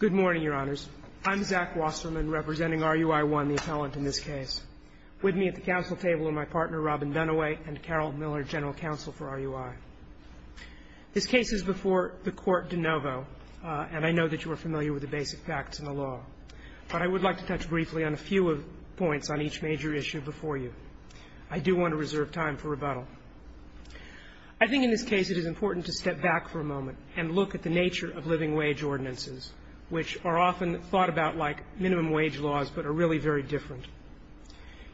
Good morning, Your Honors. I'm Zach Wasserman, representing RUI-1, the appellant in this case. With me at the Council table are my partner, Robin Dunaway, and Carol Miller, General Counsel for RUI. This case is before the court de novo, and I know that you are familiar with the basic facts in the law. But I would like to touch briefly on a few points on each major issue before you. I do want to reserve time for rebuttal. I think in this case it is important to step back for a moment and look at the nature of living wage ordinances, which are often thought about like minimum wage laws but are really very different.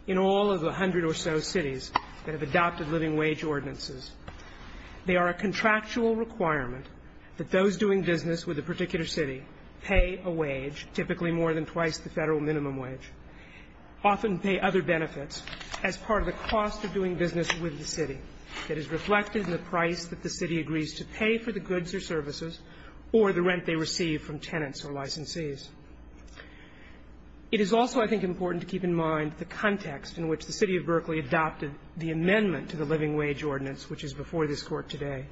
In all of the hundred or so cities that have adopted living wage ordinances, they are a contractual requirement that those doing business with a particular city pay a wage, typically more than twice the federal minimum wage, often pay other benefits as part of the cost of doing business with the city that is reflected in the price that the city agrees to pay for the goods or services or the rent they receive from tenants or licensees. It is also, I think, important to keep in mind the context in which the City of Berkeley adopted the amendment to the living wage ordinance, which is before this Court today.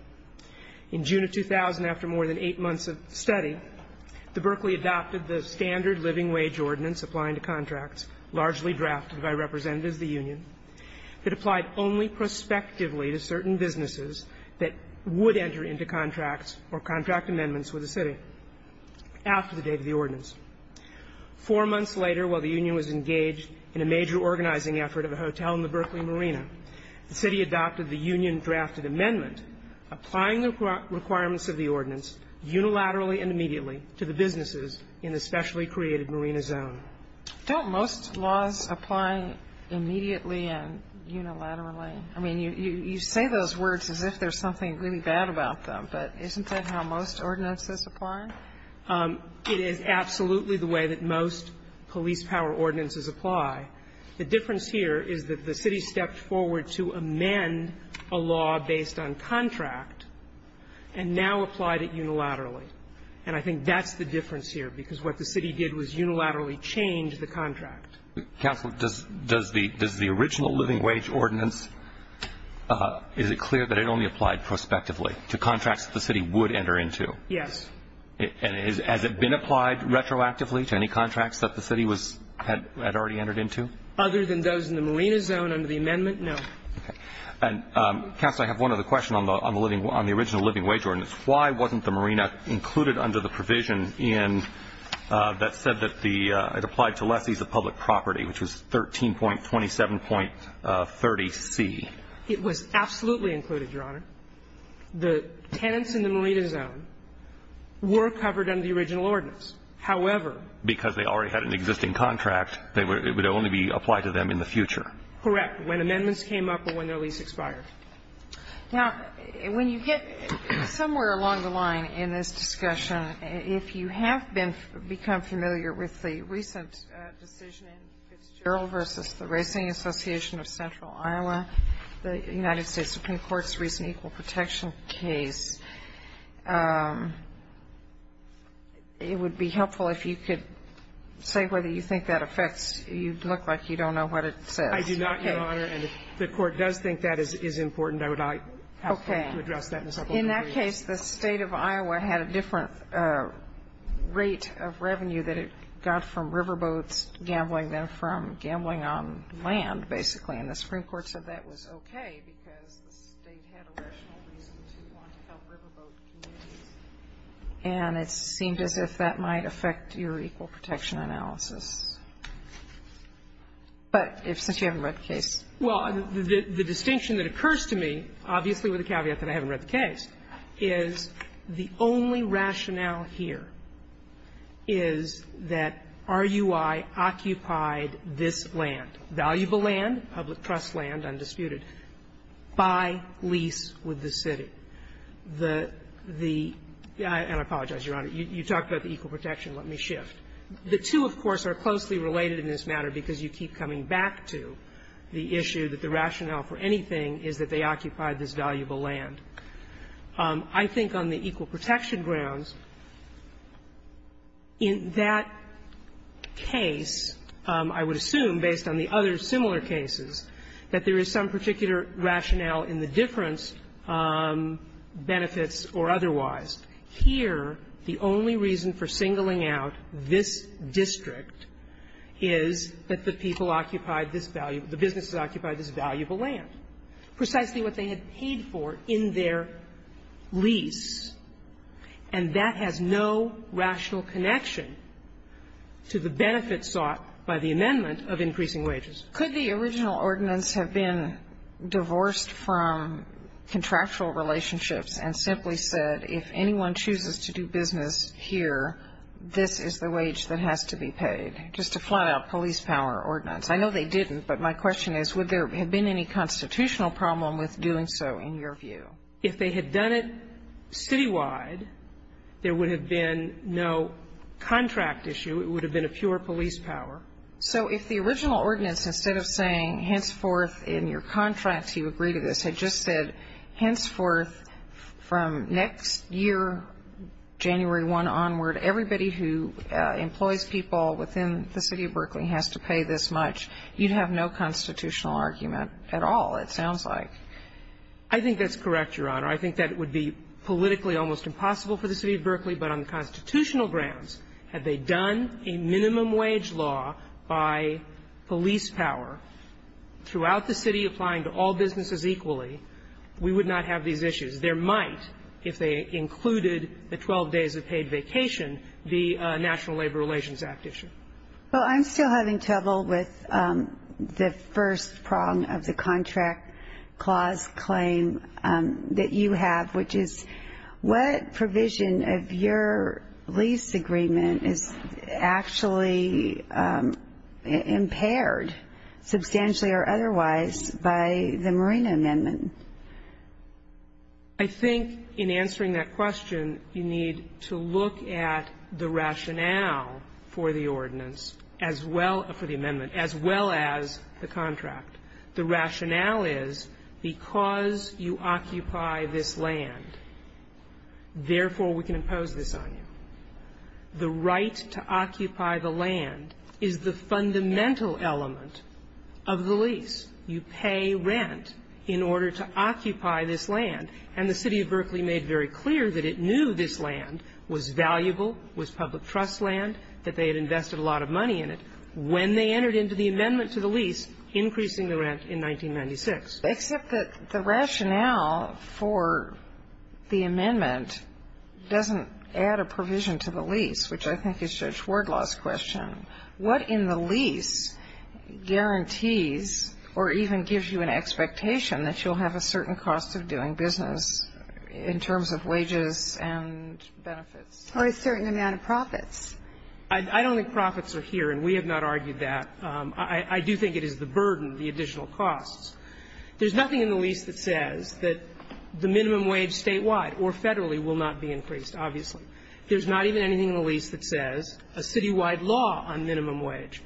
In June of 2000, after more than eight months of study, the Berkeley adopted the standard living wage ordinance applying to contracts, largely drafted by representatives of the union, that applied only prospectively to certain businesses that would enter into contracts or contract amendments with the city after the date of the ordinance. Four months later, while the union was engaged in a major organizing effort of a hotel in the Berkeley marina, the city adopted the union drafted amendment applying the requirements of the ordinance unilaterally and immediately to the businesses in the specially created marina zone. Don't most laws apply immediately and unilaterally? I mean, you say those words as if there's something really bad about them, but isn't that how most ordinances apply? It is absolutely the way that most police power ordinances apply. The difference here is that the city stepped forward to amend a law based on contract and now applied it unilaterally. And I think that's the difference here, because what the city did was unilaterally change the contract. Counsel, does the original living wage ordinance, is it clear that it only applied prospectively to contracts that the city would enter into? Yes. And has it been applied retroactively to any contracts that the city had already entered into? Other than those in the marina zone under the amendment, no. Counsel, I have one other question on the original living wage ordinance. Why wasn't the marina included under the provision that said that it applied to lessees of public property, which was 13.27.30c? It was absolutely included, Your Honor. The tenants in the marina zone were covered under the original ordinance. However, because they already had an existing contract, it would only be applied to them in the future. Correct. When amendments came up or when their lease expired. Now, when you get somewhere along the line in this discussion, if you have become familiar with the recent decision in Fitzgerald v. The Racing Association of Central Iowa, the United States Supreme Court's recent equal protection case, it would be helpful if you could say whether you think that affects, you look like you don't know what it says. I do not, Your Honor. And if the Court does think that is important, I would like to address that in a second. In that case, the State of Iowa had a different rate of revenue that it got from riverboats gambling than from gambling on land, basically, and the Supreme Court said that was okay because the State had a rational reason to want to help riverboat communities. And it seemed as if that might affect your equal protection analysis. But since you haven't read the case. Well, the distinction that occurs to me, obviously with a caveat that I haven't read the case, is the only rationale here is that RUI occupied this land, valuable land, public trust land, undisputed, by lease with the city. The – and I apologize, Your Honor. You talked about the equal protection. Let me shift. The two, of course, are closely related in this matter because you keep coming back to the issue that the rationale for anything is that they occupied this valuable land. I think on the equal protection grounds, in that case, I would assume, based on the other similar cases, that there is some particular rationale in the difference, benefits or otherwise. Here, the only reason for singling out this district is that the people occupied this valuable – the businesses occupied this valuable land. Precisely what they had paid for in their lease. And that has no rational connection to the benefits sought by the amendment of increasing wages. Could the original ordinance have been divorced from contractual relationships and simply said, if anyone chooses to do business here, this is the wage that has to be paid? Just a flat-out police power ordinance. I know they didn't, but my question is, would there have been any constitutional problem with doing so, in your view? If they had done it citywide, there would have been no contract issue. It would have been a fewer police power. So if the original ordinance, instead of saying, henceforth, in your contract, you agree to this, had just said, henceforth, from next year, January 1 onward, everybody who employs people within the city of Berkeley has to pay this much, you'd have no constitutional argument at all, it sounds like. I think that's correct, Your Honor. I think that would be politically almost impossible for the city of Berkeley, but on constitutional grounds, had they done a minimum wage law by police power throughout the city, applying to all businesses equally, we would not have these issues. There might, if they included the 12 days of paid vacation, the National Labor Relations Act issue. Well, I'm still having trouble with the first prong of the contract clause claim that you have, which is, what provision of your lease agreement is actually impaired, substantially or otherwise, by the Marina Amendment? I think in answering that question, you need to look at the rationale for the ordinance as well as for the amendment, as well as the contract. The rationale is, because you occupy this land, therefore, we can impose this on you. The right to occupy the land is the fundamental element of the lease. You pay rent in order to occupy this land. And the city of Berkeley made very clear that it knew this land was valuable, was public trust land, that they had invested a lot of money in it when they entered into the amendment to the lease, increasing the rent in 1996. Except that the rationale for the amendment doesn't add a provision to the lease, which I think is Judge Wardlaw's question. What in the lease guarantees or even gives you an expectation that you'll have a certain cost of doing business in terms of wages and benefits? Or a certain amount of profits. I don't think profits are here, and we have not argued that. I do think it is the burden, the additional costs. There's nothing in the lease that says that the minimum wage statewide or federally will not be increased, obviously. There's not even anything in the lease that says a citywide law on minimum wage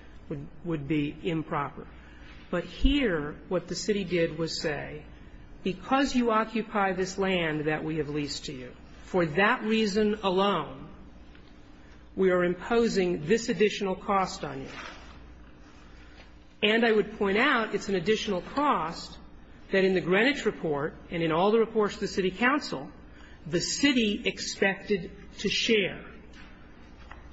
would be improper. But here, what the city did was say, because you occupy this land that we have leased to you, for that reason alone, we are imposing this additional cost on you. And I would point out it's an additional cost that in the Greenwich report and in all the reports to the city council, the city expected to share.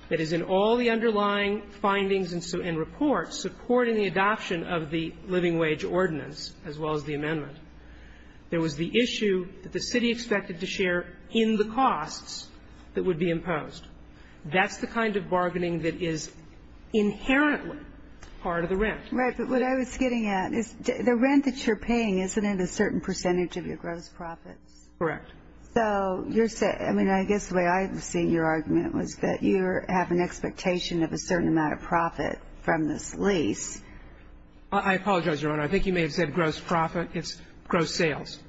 That is, in all the underlying findings and reports supporting the adoption of the living wage ordinance, as well as the amendment, there was the issue that the city expected to share in the costs that would be imposed. That's the kind of bargaining that is inherently part of the rent. Right. But what I was getting at is the rent that you're paying, isn't it a certain percentage of your gross profits? Correct. So you're saying – I mean, I guess the way I'm seeing your argument was that you have an expectation of a certain amount of profit from this lease. I apologize, Your Honor. I think you may have said gross profit. It's gross sales.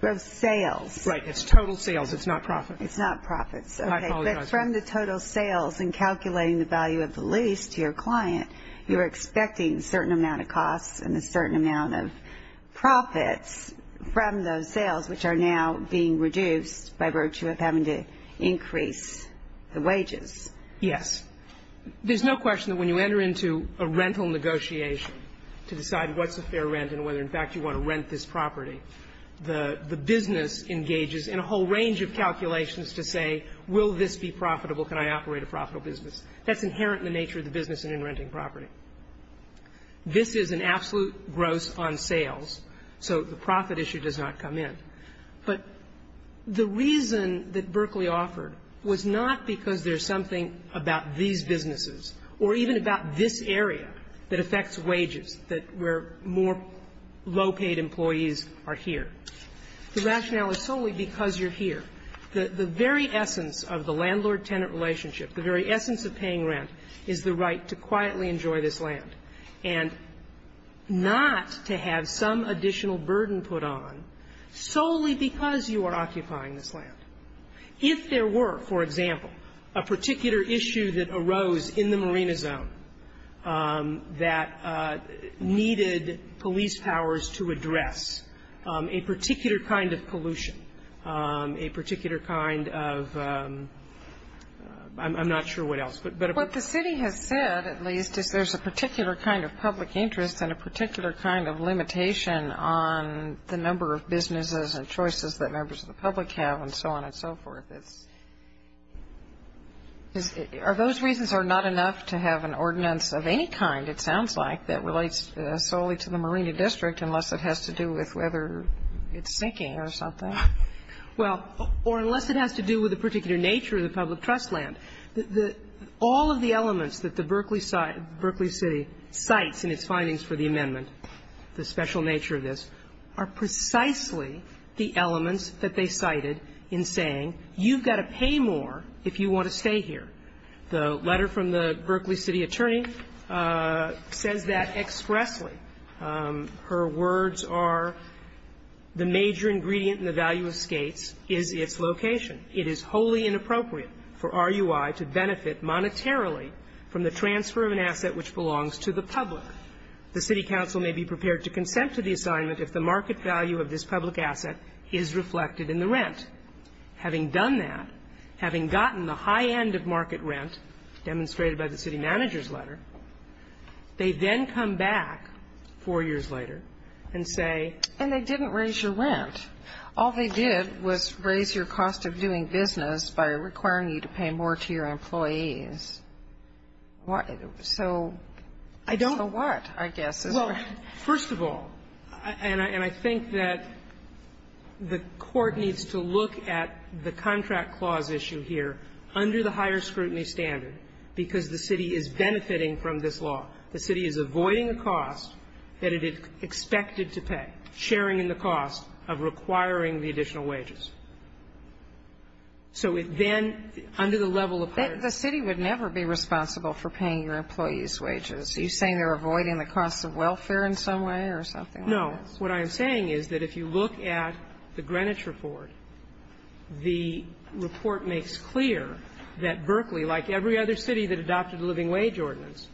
Gross sales. Right. It's total sales. It's not profits. It's not profits. I apologize. Okay. But from the total sales and calculating the value of the lease to your client, you're expecting a certain amount of costs and a certain amount of profits from those sales, which are now being reduced by virtue of having to increase the wages. Yes. There's no question that when you enter into a rental negotiation to decide what's a fair rent and whether, in fact, you want to rent this property, the business engages in a whole range of calculations to say, will this be profitable? Can I operate a profitable business? That's inherent in the nature of the business and in renting property. This is an absolute gross on sales, so the profit issue does not come in. But the reason that Berkeley offered was not because there's something about these businesses or even about this area that affects wages, that where more low-paid employees are here. The rationale is solely because you're here. The very essence of the landlord-tenant relationship, the very essence of paying rent, is the right to quietly enjoy this land and not to have some additional burden put on solely because you are occupying this land. If there were, for example, a particular issue that arose in the marina zone that needed police powers to address a particular kind of pollution, a particular kind of ‑‑ I'm not sure what else. But ‑‑ What the city has said, at least, is there's a particular kind of public interest and a particular kind of limitation on the number of businesses and choices that members of the public have and so on and so forth. Those reasons are not enough to have an ordinance of any kind, it sounds like, that relates solely to the marina district unless it has to do with whether it's sinking or something? Well, or unless it has to do with a particular nature of the public trust land. All of the elements that the Berkeley City cites in its findings for the amendment, the special nature of this, are precisely the elements that they cited in saying you've got to pay more if you want to stay here. The letter from the Berkeley City attorney says that expressly. Her words are, the major ingredient in the value of skates is its location. It is wholly inappropriate for RUI to benefit monetarily from the transfer of an asset which belongs to the public. The city council may be prepared to consent to the assignment if the market value of this public asset is reflected in the rent. Having done that, having gotten the high end of market rent demonstrated by the city manager's letter, they then come back four years later and say they didn't raise your rent. All they did was raise your cost of doing business by requiring you to pay more to your employees. So I don't know what, I guess. Well, first of all, and I think that the Court needs to look at the contract clause issue here under the higher scrutiny standard, because the city is benefiting from this law. The city is avoiding a cost that it expected to pay, sharing in the cost of requiring the additional wages. So then under the level of higher scrutiny. The city would never be responsible for paying your employees' wages. Are you saying they're avoiding the cost of welfare in some way or something like this? No. What I'm saying is that if you look at the Greenwich report, the report makes clear that Berkeley, like every other city that adopted the living wage ordinance,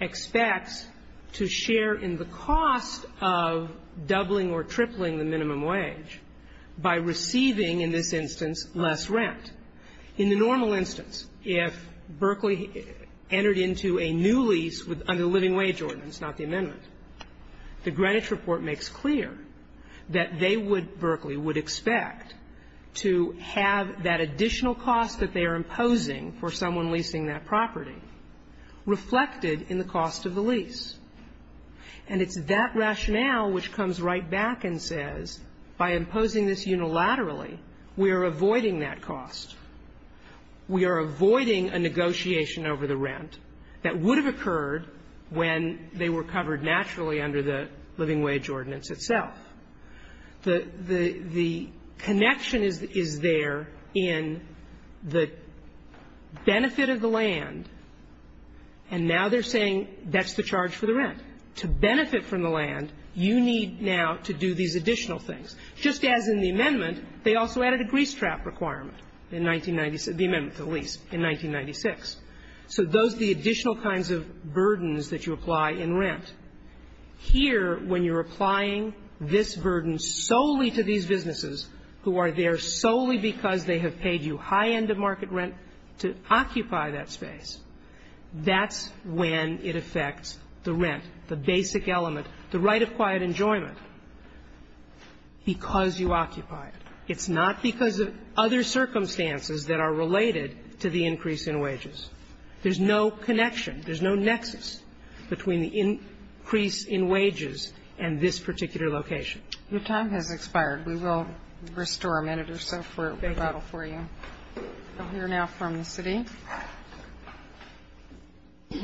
expects to share in the cost of doubling or tripling the minimum wage by receiving, in this instance, less rent. In the normal instance, if Berkeley entered into a new lease under the living wage ordinance, not the amendment, the Greenwich report makes clear that they would be, Berkeley would expect, to have that additional cost that they are imposing for someone leasing that property reflected in the cost of the lease. And it's that rationale which comes right back and says, by imposing this unilaterally, we are avoiding that cost. We are avoiding a negotiation over the rent that would have occurred when they were covered naturally under the living wage ordinance itself. The connection is there in the benefit of the land, and now they're saying that's the charge for the rent. To benefit from the land, you need now to do these additional things. Just as in the amendment, they also added a grease trap requirement in 1996, the amendment to the lease in 1996. So those are the additional kinds of burdens that you apply in rent. Here, when you're applying this burden solely to these businesses who are there solely because they have paid you high end of market rent to occupy that space, that's when it affects the rent, the basic element, the right of quiet enjoyment. Because you occupy it. It's not because of other circumstances that are related to the increase in wages. There's no connection. There's no nexus between the increase in wages and this particular location. Your time has expired. We will restore a minute or so for rebuttal for you. We'll hear now from the city. Good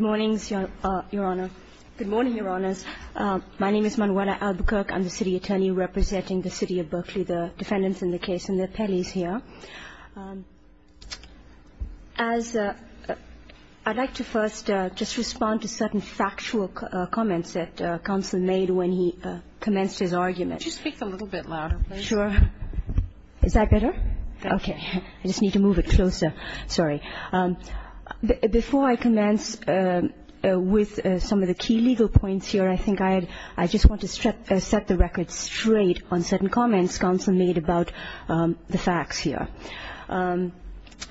morning, Your Honor. Good morning, Your Honors. My name is Manuela Albuquerque. I'm the city attorney representing the city of Berkeley, the defendants in the case, and the appellees here. As I'd like to first just respond to certain factual comments that counsel made when he commenced his argument. Could you speak a little bit louder, please? Sure. Is that better? Okay. I just need to move it closer. Sorry. Before I commence with some of the key legal points here, I think I just want to set the record straight on certain comments counsel made about the facts here.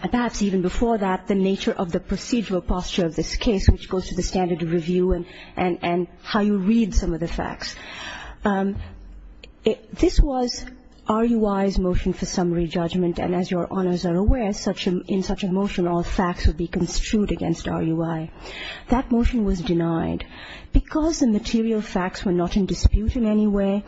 Perhaps even before that, the nature of the procedural posture of this case, which goes to the standard of review and how you read some of the facts. This was RUI's motion for summary judgment, and as Your Honors are aware, in such a motion all facts would be construed against RUI. That motion was denied. Because the material facts were not in dispute in any way,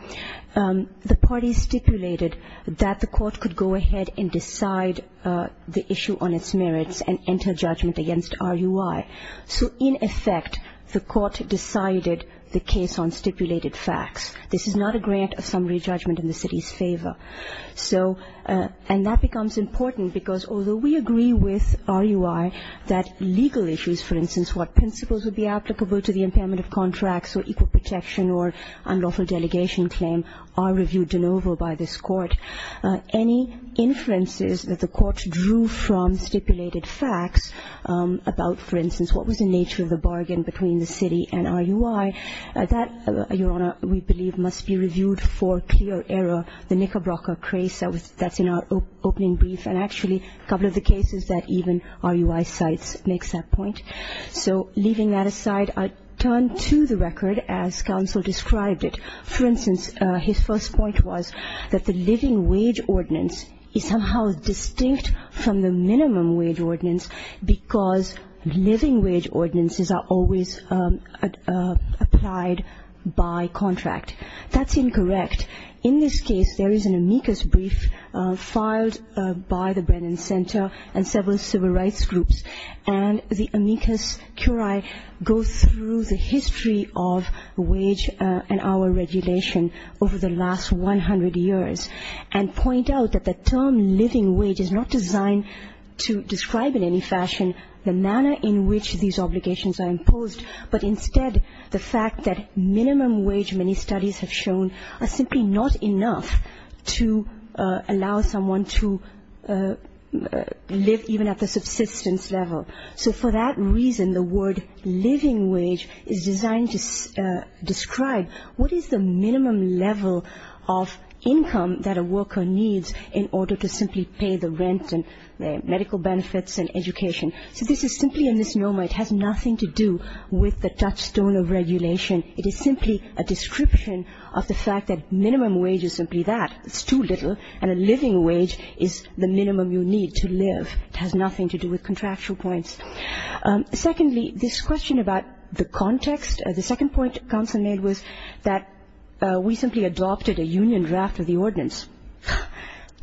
the parties stipulated that the court could go ahead and decide the issue on its merits and enter judgment against RUI. So, in effect, the court decided the case on stipulated facts. This is not a grant of summary judgment in the city's favor. And that becomes important because although we agree with RUI that legal issues, for instance, what principles would be applicable to the impairment of contracts or equal protection or unlawful delegation claim are reviewed de novo by this court, any inferences that the court drew from stipulated facts about, for instance, what was the nature of the bargain between the city and RUI, that, Your Honor, we believe must be reviewed for clear error. The Knickerbrocker case, that's in our opening brief, and actually a couple of the cases that even RUI cites makes that point. So, leaving that aside, I turn to the record as counsel described it. For instance, his first point was that the living wage ordinance is somehow distinct from the minimum wage ordinance because living wage ordinances are always applied by contract. That's incorrect. In this case, there is an amicus brief filed by the Brennan Center and several civil rights groups, and the amicus curiae goes through the history of wage and hour regulation over the last 100 years and point out that the term living wage is not designed to describe in any fashion the manner in which these obligations are imposed, but instead the fact that minimum wage, many studies have shown, are simply not enough to allow someone to live even at the subsistence level. So for that reason, the word living wage is designed to describe what is the minimum level of income that a worker needs in order to simply pay the rent and medical benefits and education. So this is simply a misnomer. It has nothing to do with the touchstone of regulation. It is simply a description of the fact that minimum wage is simply that. It's too little, and a living wage is the minimum you need to live. It has nothing to do with contractual points. Secondly, this question about the context, the second point counsel made was that we simply adopted a union draft of the ordinance.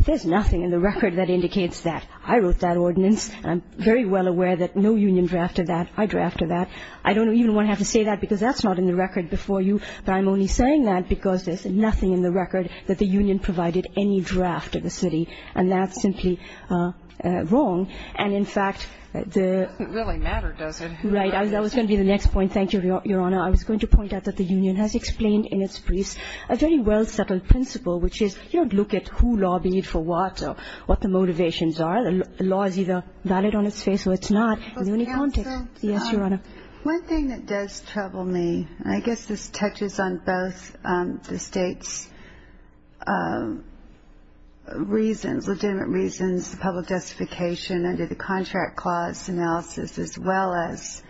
There's nothing in the record that indicates that. I wrote that ordinance, and I'm very well aware that no union drafted that. I drafted that. I don't even want to have to say that because that's not in the record before you, but I'm only saying that because there's nothing in the record that the union provided any draft of the city, and that's simply wrong. And, in fact, the ---- It doesn't really matter, does it? Right. That was going to be the next point. Thank you, Your Honor. I was going to point out that the union has explained in its briefs a very well-settled principle, which is you don't look at who lobbied for what or what the motivations are. The law is either valid on its face or it's not in the union context. But, counsel. Yes, Your Honor. One thing that does trouble me, and I guess this touches on both the State's reasons, legitimate reasons, the public justification under the contract clause analysis as well as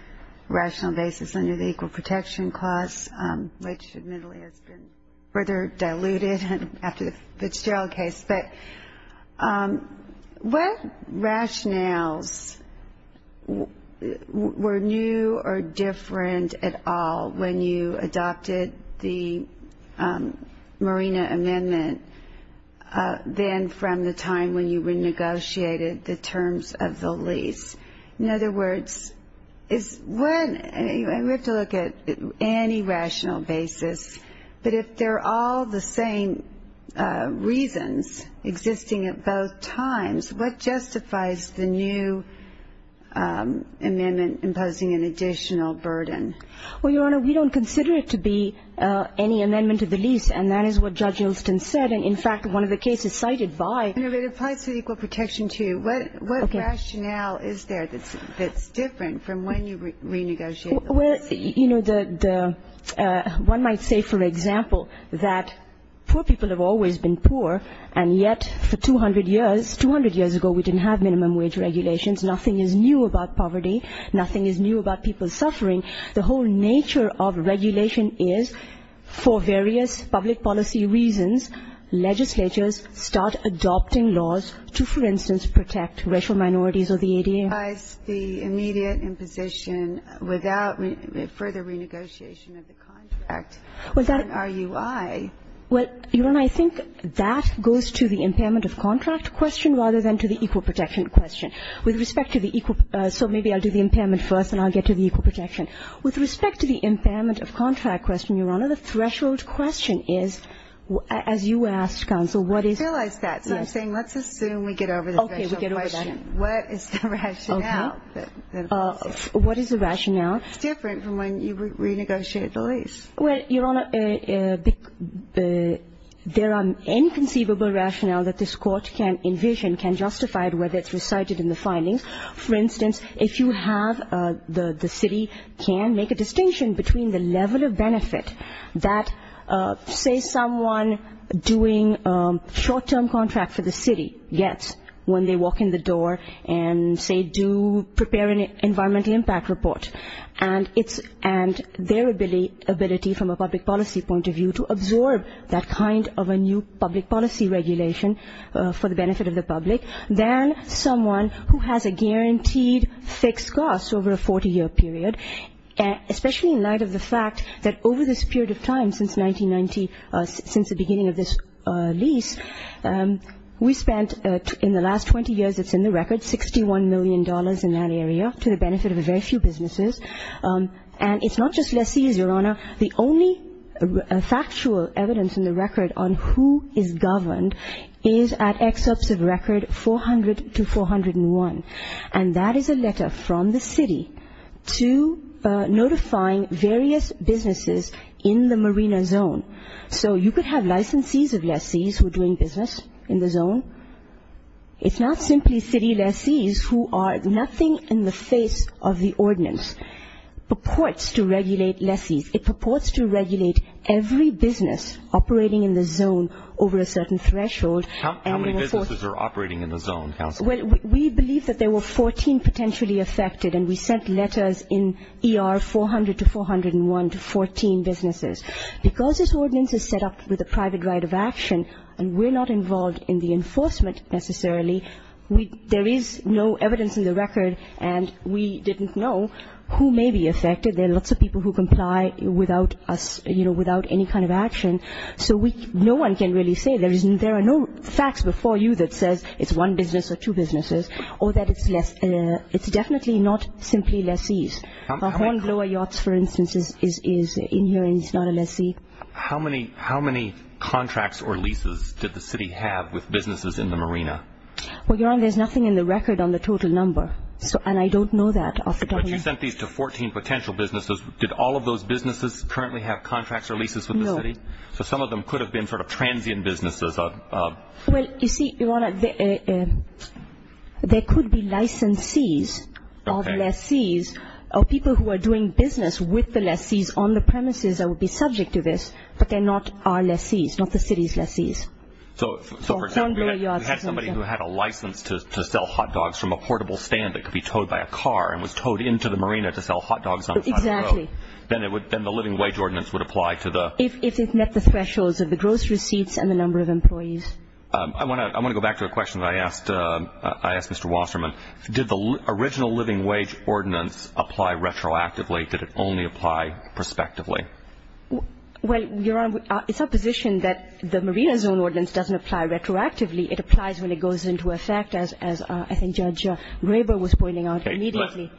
rational basis under the Equal Protection Clause, which admittedly has been further diluted after the Fitzgerald case. But what rationales were new or different at all when you adopted the Marina Amendment than from the time when you renegotiated the terms of the lease? In other words, is when ---- We have to look at any rational basis. But if they're all the same reasons existing at both times, what justifies the new amendment imposing an additional burden? Well, Your Honor, we don't consider it to be any amendment to the lease, and that is what Judge Ilston said. And, in fact, one of the cases cited by ---- No, but it applies to the Equal Protection, too. What rationale is there that's different from when you renegotiated the lease? Well, you know, one might say, for example, that poor people have always been poor, and yet for 200 years, 200 years ago, we didn't have minimum wage regulations. Nothing is new about poverty. Nothing is new about people suffering. The whole nature of regulation is for various public policy reasons, legislatures start adopting laws to, for instance, protect racial minorities or the ADA. What justifies the immediate imposition without further renegotiation of the contract on RUI? Well, Your Honor, I think that goes to the impairment of contract question rather than to the Equal Protection question. With respect to the equal ---- So maybe I'll do the impairment first, and I'll get to the Equal Protection. With respect to the impairment of contract question, Your Honor, the threshold question is, as you asked, counsel, what is ---- I realize that. So I'm saying let's assume we get over the threshold question. Okay, we get over that. What is the rationale? Okay. What is the rationale? It's different from when you renegotiate the lease. Well, Your Honor, there are inconceivable rationale that this Court can envision, can justify whether it's recited in the findings. For instance, if you have the city can make a distinction between the level of benefit that, say, someone doing short-term contract for the city gets when they walk in the door and say do prepare an environmental impact report, and their ability from a public policy point of view to absorb that kind of a new public policy regulation for the benefit of the public, than someone who has a guaranteed fixed cost over a 40-year period, especially in light of the fact that over this period of time since 1990, since the beginning of this lease, we spent in the last 20 years, it's in the record, $61 million in that area to the benefit of a very few businesses. And it's not just lessees, Your Honor. The only factual evidence in the record on who is governed is at excerpts of record 400 to 401. And that is a letter from the city to notifying various businesses in the marina zone. So you could have licensees of lessees who are doing business in the zone. It's not simply city lessees who are nothing in the face of the ordinance. It purports to regulate lessees. It purports to regulate every business operating in the zone over a certain threshold. How many businesses are operating in the zone, Counsel? Well, we believe that there were 14 potentially affected, and we sent letters in ER 400 to 401 to 14 businesses. Because this ordinance is set up with a private right of action, and we're not involved in the enforcement necessarily, there is no evidence in the record, and we didn't know who may be affected. There are lots of people who comply without any kind of action. So no one can really say. There are no facts before you that says it's one business or two businesses or that it's definitely not simply lessees. Hornblower Yachts, for instance, is in here and is not a lessee. How many contracts or leases did the city have with businesses in the marina? Well, Your Honor, there's nothing in the record on the total number, and I don't know that. But you sent these to 14 potential businesses. Did all of those businesses currently have contracts or leases with the city? So some of them could have been sort of transient businesses. Well, you see, Your Honor, there could be licensees of lessees or people who are doing business with the lessees on the premises that would be subject to this, but they're not our lessees, not the city's lessees. So for example, if you had somebody who had a license to sell hot dogs from a portable stand that could be towed by a car and was towed into the marina to sell hot dogs on the side of the road, then the living wage ordinance would apply to the... If it met the thresholds of the gross receipts and the number of employees. I want to go back to a question that I asked Mr. Wasserman. Did the original living wage ordinance apply retroactively, or did it only apply prospectively? Well, Your Honor, it's our position that the marina zone ordinance doesn't apply retroactively. It applies when it goes into effect, as I think Judge Raber was pointing out immediately.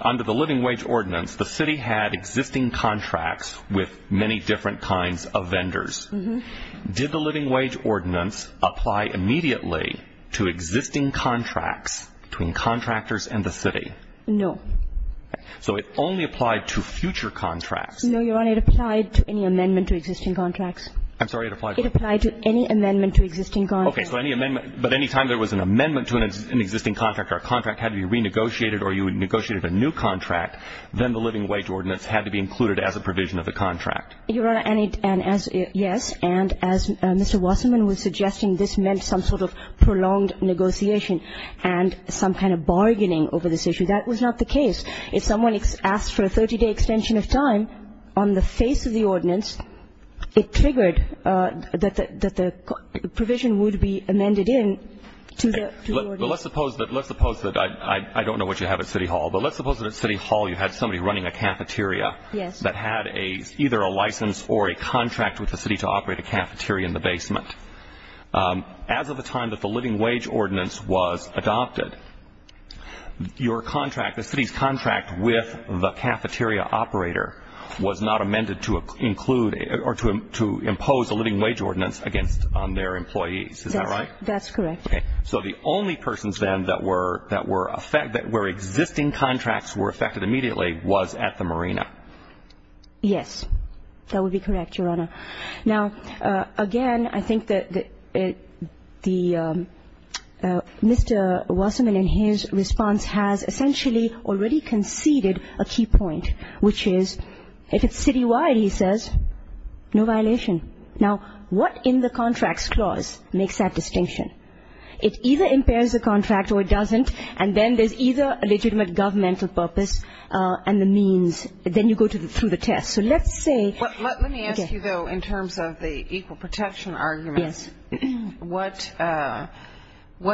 Under the living wage ordinance, the city had existing contracts with many different kinds of vendors. Did the living wage ordinance apply immediately to existing contracts between contractors and the city? No. So it only applied to future contracts. No, Your Honor, it applied to any amendment to existing contracts. I'm sorry, it applied to what? It applied to any amendment to existing contracts. Okay, but any time there was an amendment to an existing contract, or a contract had to be renegotiated or you negotiated a new contract, then the living wage ordinance had to be included as a provision of the contract. Your Honor, yes, and as Mr. Wasserman was suggesting, this meant some sort of prolonged negotiation and some kind of bargaining over this issue. That was not the case. If someone asked for a 30-day extension of time on the face of the ordinance, it triggered that the provision would be amended in to the ordinance. Let's suppose that I don't know what you have at City Hall, but let's suppose that at City Hall you had somebody running a cafeteria that had either a license or a contract with the city to operate a cafeteria in the basement. As of the time that the living wage ordinance was adopted, your contract, the city's contract with the cafeteria operator, was not amended to include or to impose a living wage ordinance against their employees. Is that right? That's correct. So the only persons then that were existing contracts were affected immediately was at the marina. Yes, that would be correct, Your Honor. Now, again, I think that Mr. Wasserman in his response has essentially already conceded a key point, which is if it's citywide, he says, no violation. Now, what in the contracts clause makes that distinction? It either impairs the contract or it doesn't, and then there's either a legitimate governmental purpose and the means, then you go through the test. Let me ask you, though, in terms of the equal protection arguments, what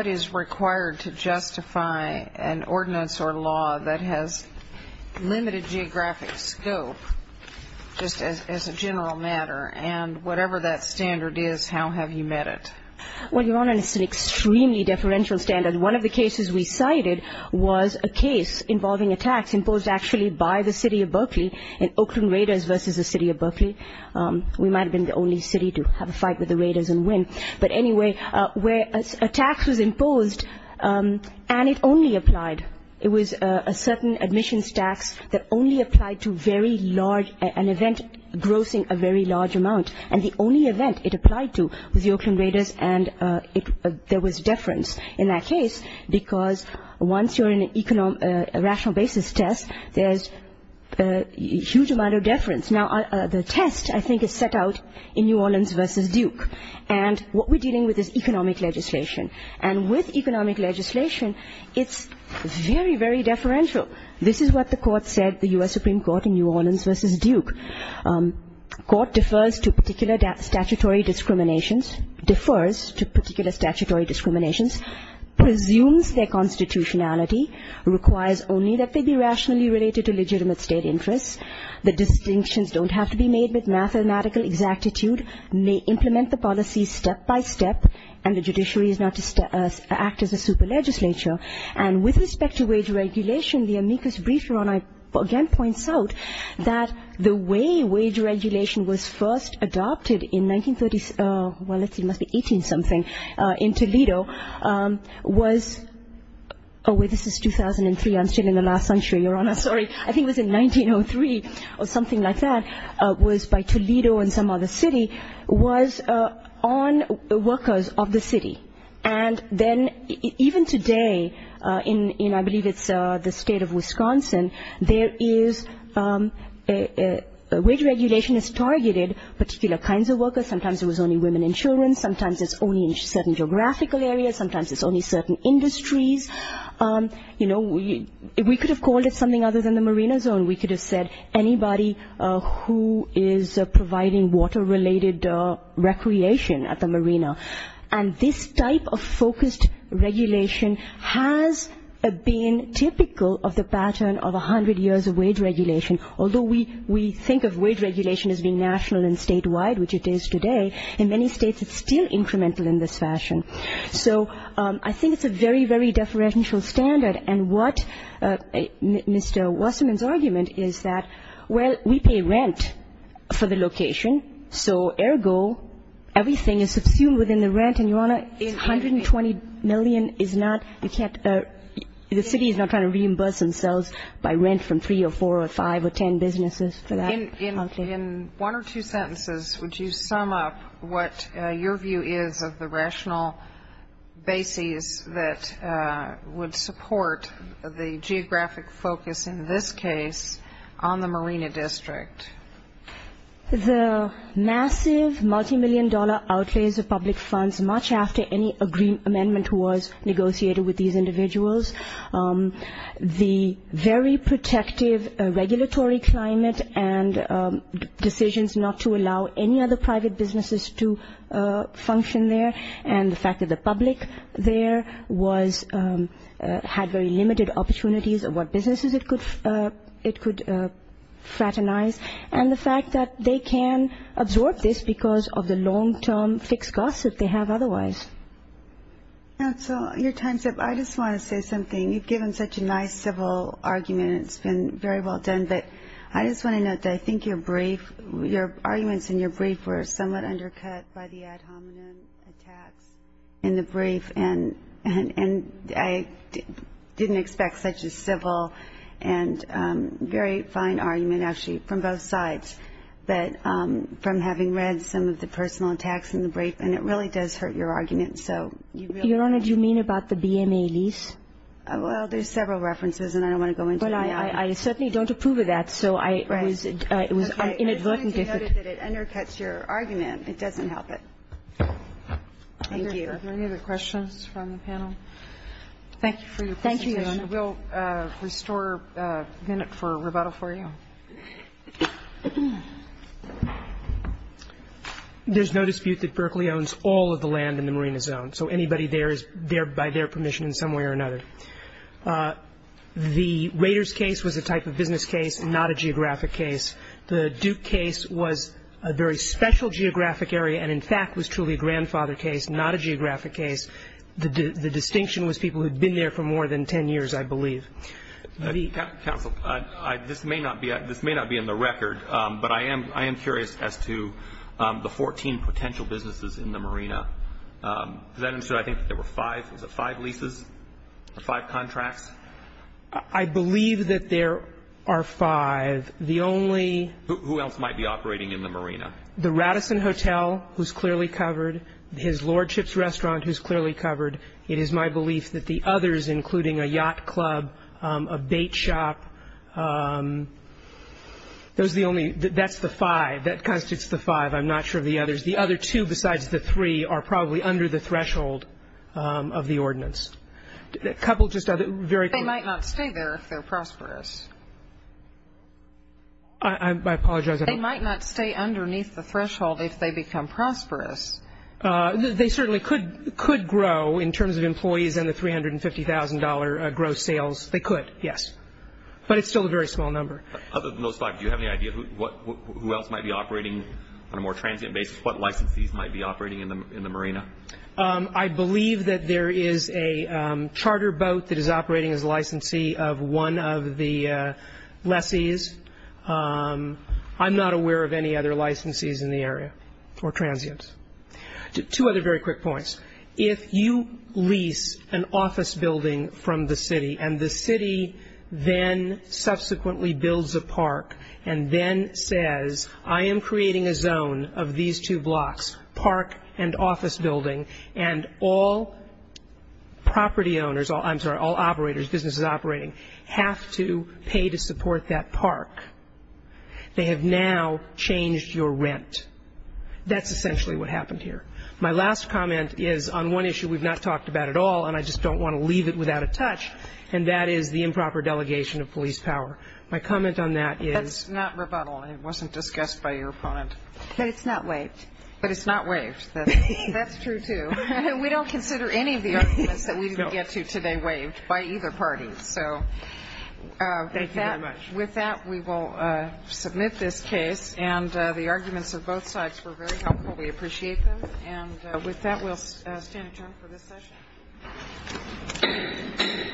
is required to justify an ordinance or law that has limited geographic scope, just as a general matter, and whatever that standard is, how have you met it? Well, Your Honor, it's an extremely deferential standard. One of the cases we cited was a case involving a tax imposed actually by the city of Berkeley in Oakland Raiders versus the city of Berkeley. We might have been the only city to have a fight with the Raiders and win. But anyway, a tax was imposed, and it only applied. It was a certain admissions tax that only applied to an event grossing a very large amount, and the only event it applied to was the Oakland Raiders, and there was deference in that case because once you're in a rational basis test, there's a huge amount of deference. Now, the test, I think, is set out in New Orleans versus Duke, and what we're dealing with is economic legislation. And with economic legislation, it's very, very deferential. This is what the court said, the U.S. Supreme Court in New Orleans versus Duke. Court defers to particular statutory discriminations, defers to particular statutory discriminations, presumes their constitutionality, requires only that they be rationally related to legitimate state interests. The distinctions don't have to be made with mathematical exactitude, may implement the policy step by step, and the judiciary is not to act as a super legislature. And with respect to wage regulation, the amicus brief, Your Honor, again points out that the way wage regulation was first adopted in 1930s, well, it must be 18-something, in Toledo was, oh, wait, this is 2003, I'm still in the last century, Your Honor, sorry. I think it was in 1903 or something like that, was by Toledo and some other city, was on workers of the city. And then even today, in I believe it's the state of Wisconsin, there is wage regulation is targeted particular kinds of workers. Sometimes it was only women and children. Sometimes it's only in certain geographical areas. Sometimes it's only certain industries. You know, we could have called it something other than the marina zone. We could have said anybody who is providing water-related recreation at the marina. And this type of focused regulation has been typical of the pattern of 100 years of wage regulation. Although we think of wage regulation as being national and statewide, which it is today, in many states it's still incremental in this fashion. So I think it's a very, very deferential standard. And what Mr. Wasserman's argument is that, well, we pay rent for the location, so ergo everything is subsumed within the rent. And, Your Honor, $120 million is not the city is not trying to reimburse themselves by rent from three or four or five or ten businesses for that. In one or two sentences, would you sum up what your view is of the rational basis that would support the geographic focus in this case on the marina district? The massive multimillion dollar outlays of public funds, much after any agreement was negotiated with these individuals, the very protective regulatory climate and decisions not to allow any other private businesses to function there, and the fact that the public there had very limited opportunities of what businesses it could fraternize, and the fact that they can absorb this because of the long-term fixed costs that they have otherwise. Counsel, your time's up. I just want to say something. You've given such a nice civil argument, and it's been very well done, but I just want to note that I think your brief, your arguments in your brief, were somewhat undercut by the ad hominem attacks in the brief, and I didn't expect such a civil and very fine argument, actually, from both sides, but from having read some of the personal attacks in the brief, and it really does hurt your argument. Your Honor, do you mean about the BMA lease? Well, there's several references, and I don't want to go into them. Well, I certainly don't approve of that, so it was inadvertent. I just wanted to note that it undercuts your argument. It doesn't help it. Thank you. Are there any other questions from the panel? Thank you for your presentation. Thank you, Your Honor. We'll restore a minute for rebuttal for you. There's no dispute that Berkeley owns all of the land in the marina zone, so anybody there is there by their permission in some way or another. The Raiders case was a type of business case, not a geographic case. The Duke case was a very special geographic area and, in fact, was truly a grandfather case, not a geographic case. The distinction was people who had been there for more than 10 years, I believe. Counsel, this may not be in the record, but I am curious as to the 14 potential businesses in the marina. Does that answer? I think there were five. Was it five leases? Five contracts? I believe that there are five. The only ---- Who else might be operating in the marina? The Radisson Hotel, who's clearly covered. His Lordship's Restaurant, who's clearly covered. It is my belief that the others, including a yacht club, a bait shop, those are the only ---- that's the five. That constitutes the five. I'm not sure of the others. The other two, besides the three, are probably under the threshold of the ordinance. A couple just other ---- They might not stay there if they're prosperous. I apologize. They might not stay underneath the threshold if they become prosperous. They certainly could grow in terms of employees and the $350,000 gross sales. They could, yes. But it's still a very small number. Other than those five, do you have any idea who else might be operating on a more transient basis, what licensees might be operating in the marina? I believe that there is a charter boat that is operating as a licensee of one of the lessees. I'm not aware of any other licensees in the area or transients. Two other very quick points. If you lease an office building from the city and the city then subsequently builds a park and then says, I am creating a zone of these two blocks, park and office building, and all property owners ---- I'm sorry, all operators, businesses operating, have to pay to support that park, they have now changed your rent. That's essentially what happened here. My last comment is on one issue we've not talked about at all, and I just don't want to leave it without a touch, and that is the improper delegation of police power. My comment on that is ---- That's not rebuttal. It wasn't discussed by your opponent. But it's not waived. But it's not waived. That's true, too. We don't consider any of the arguments that we didn't get to today waived by either party. So with that, we will submit this case. And the arguments of both sides were very helpful. We appreciate them. And with that, we'll stand adjourned for this session.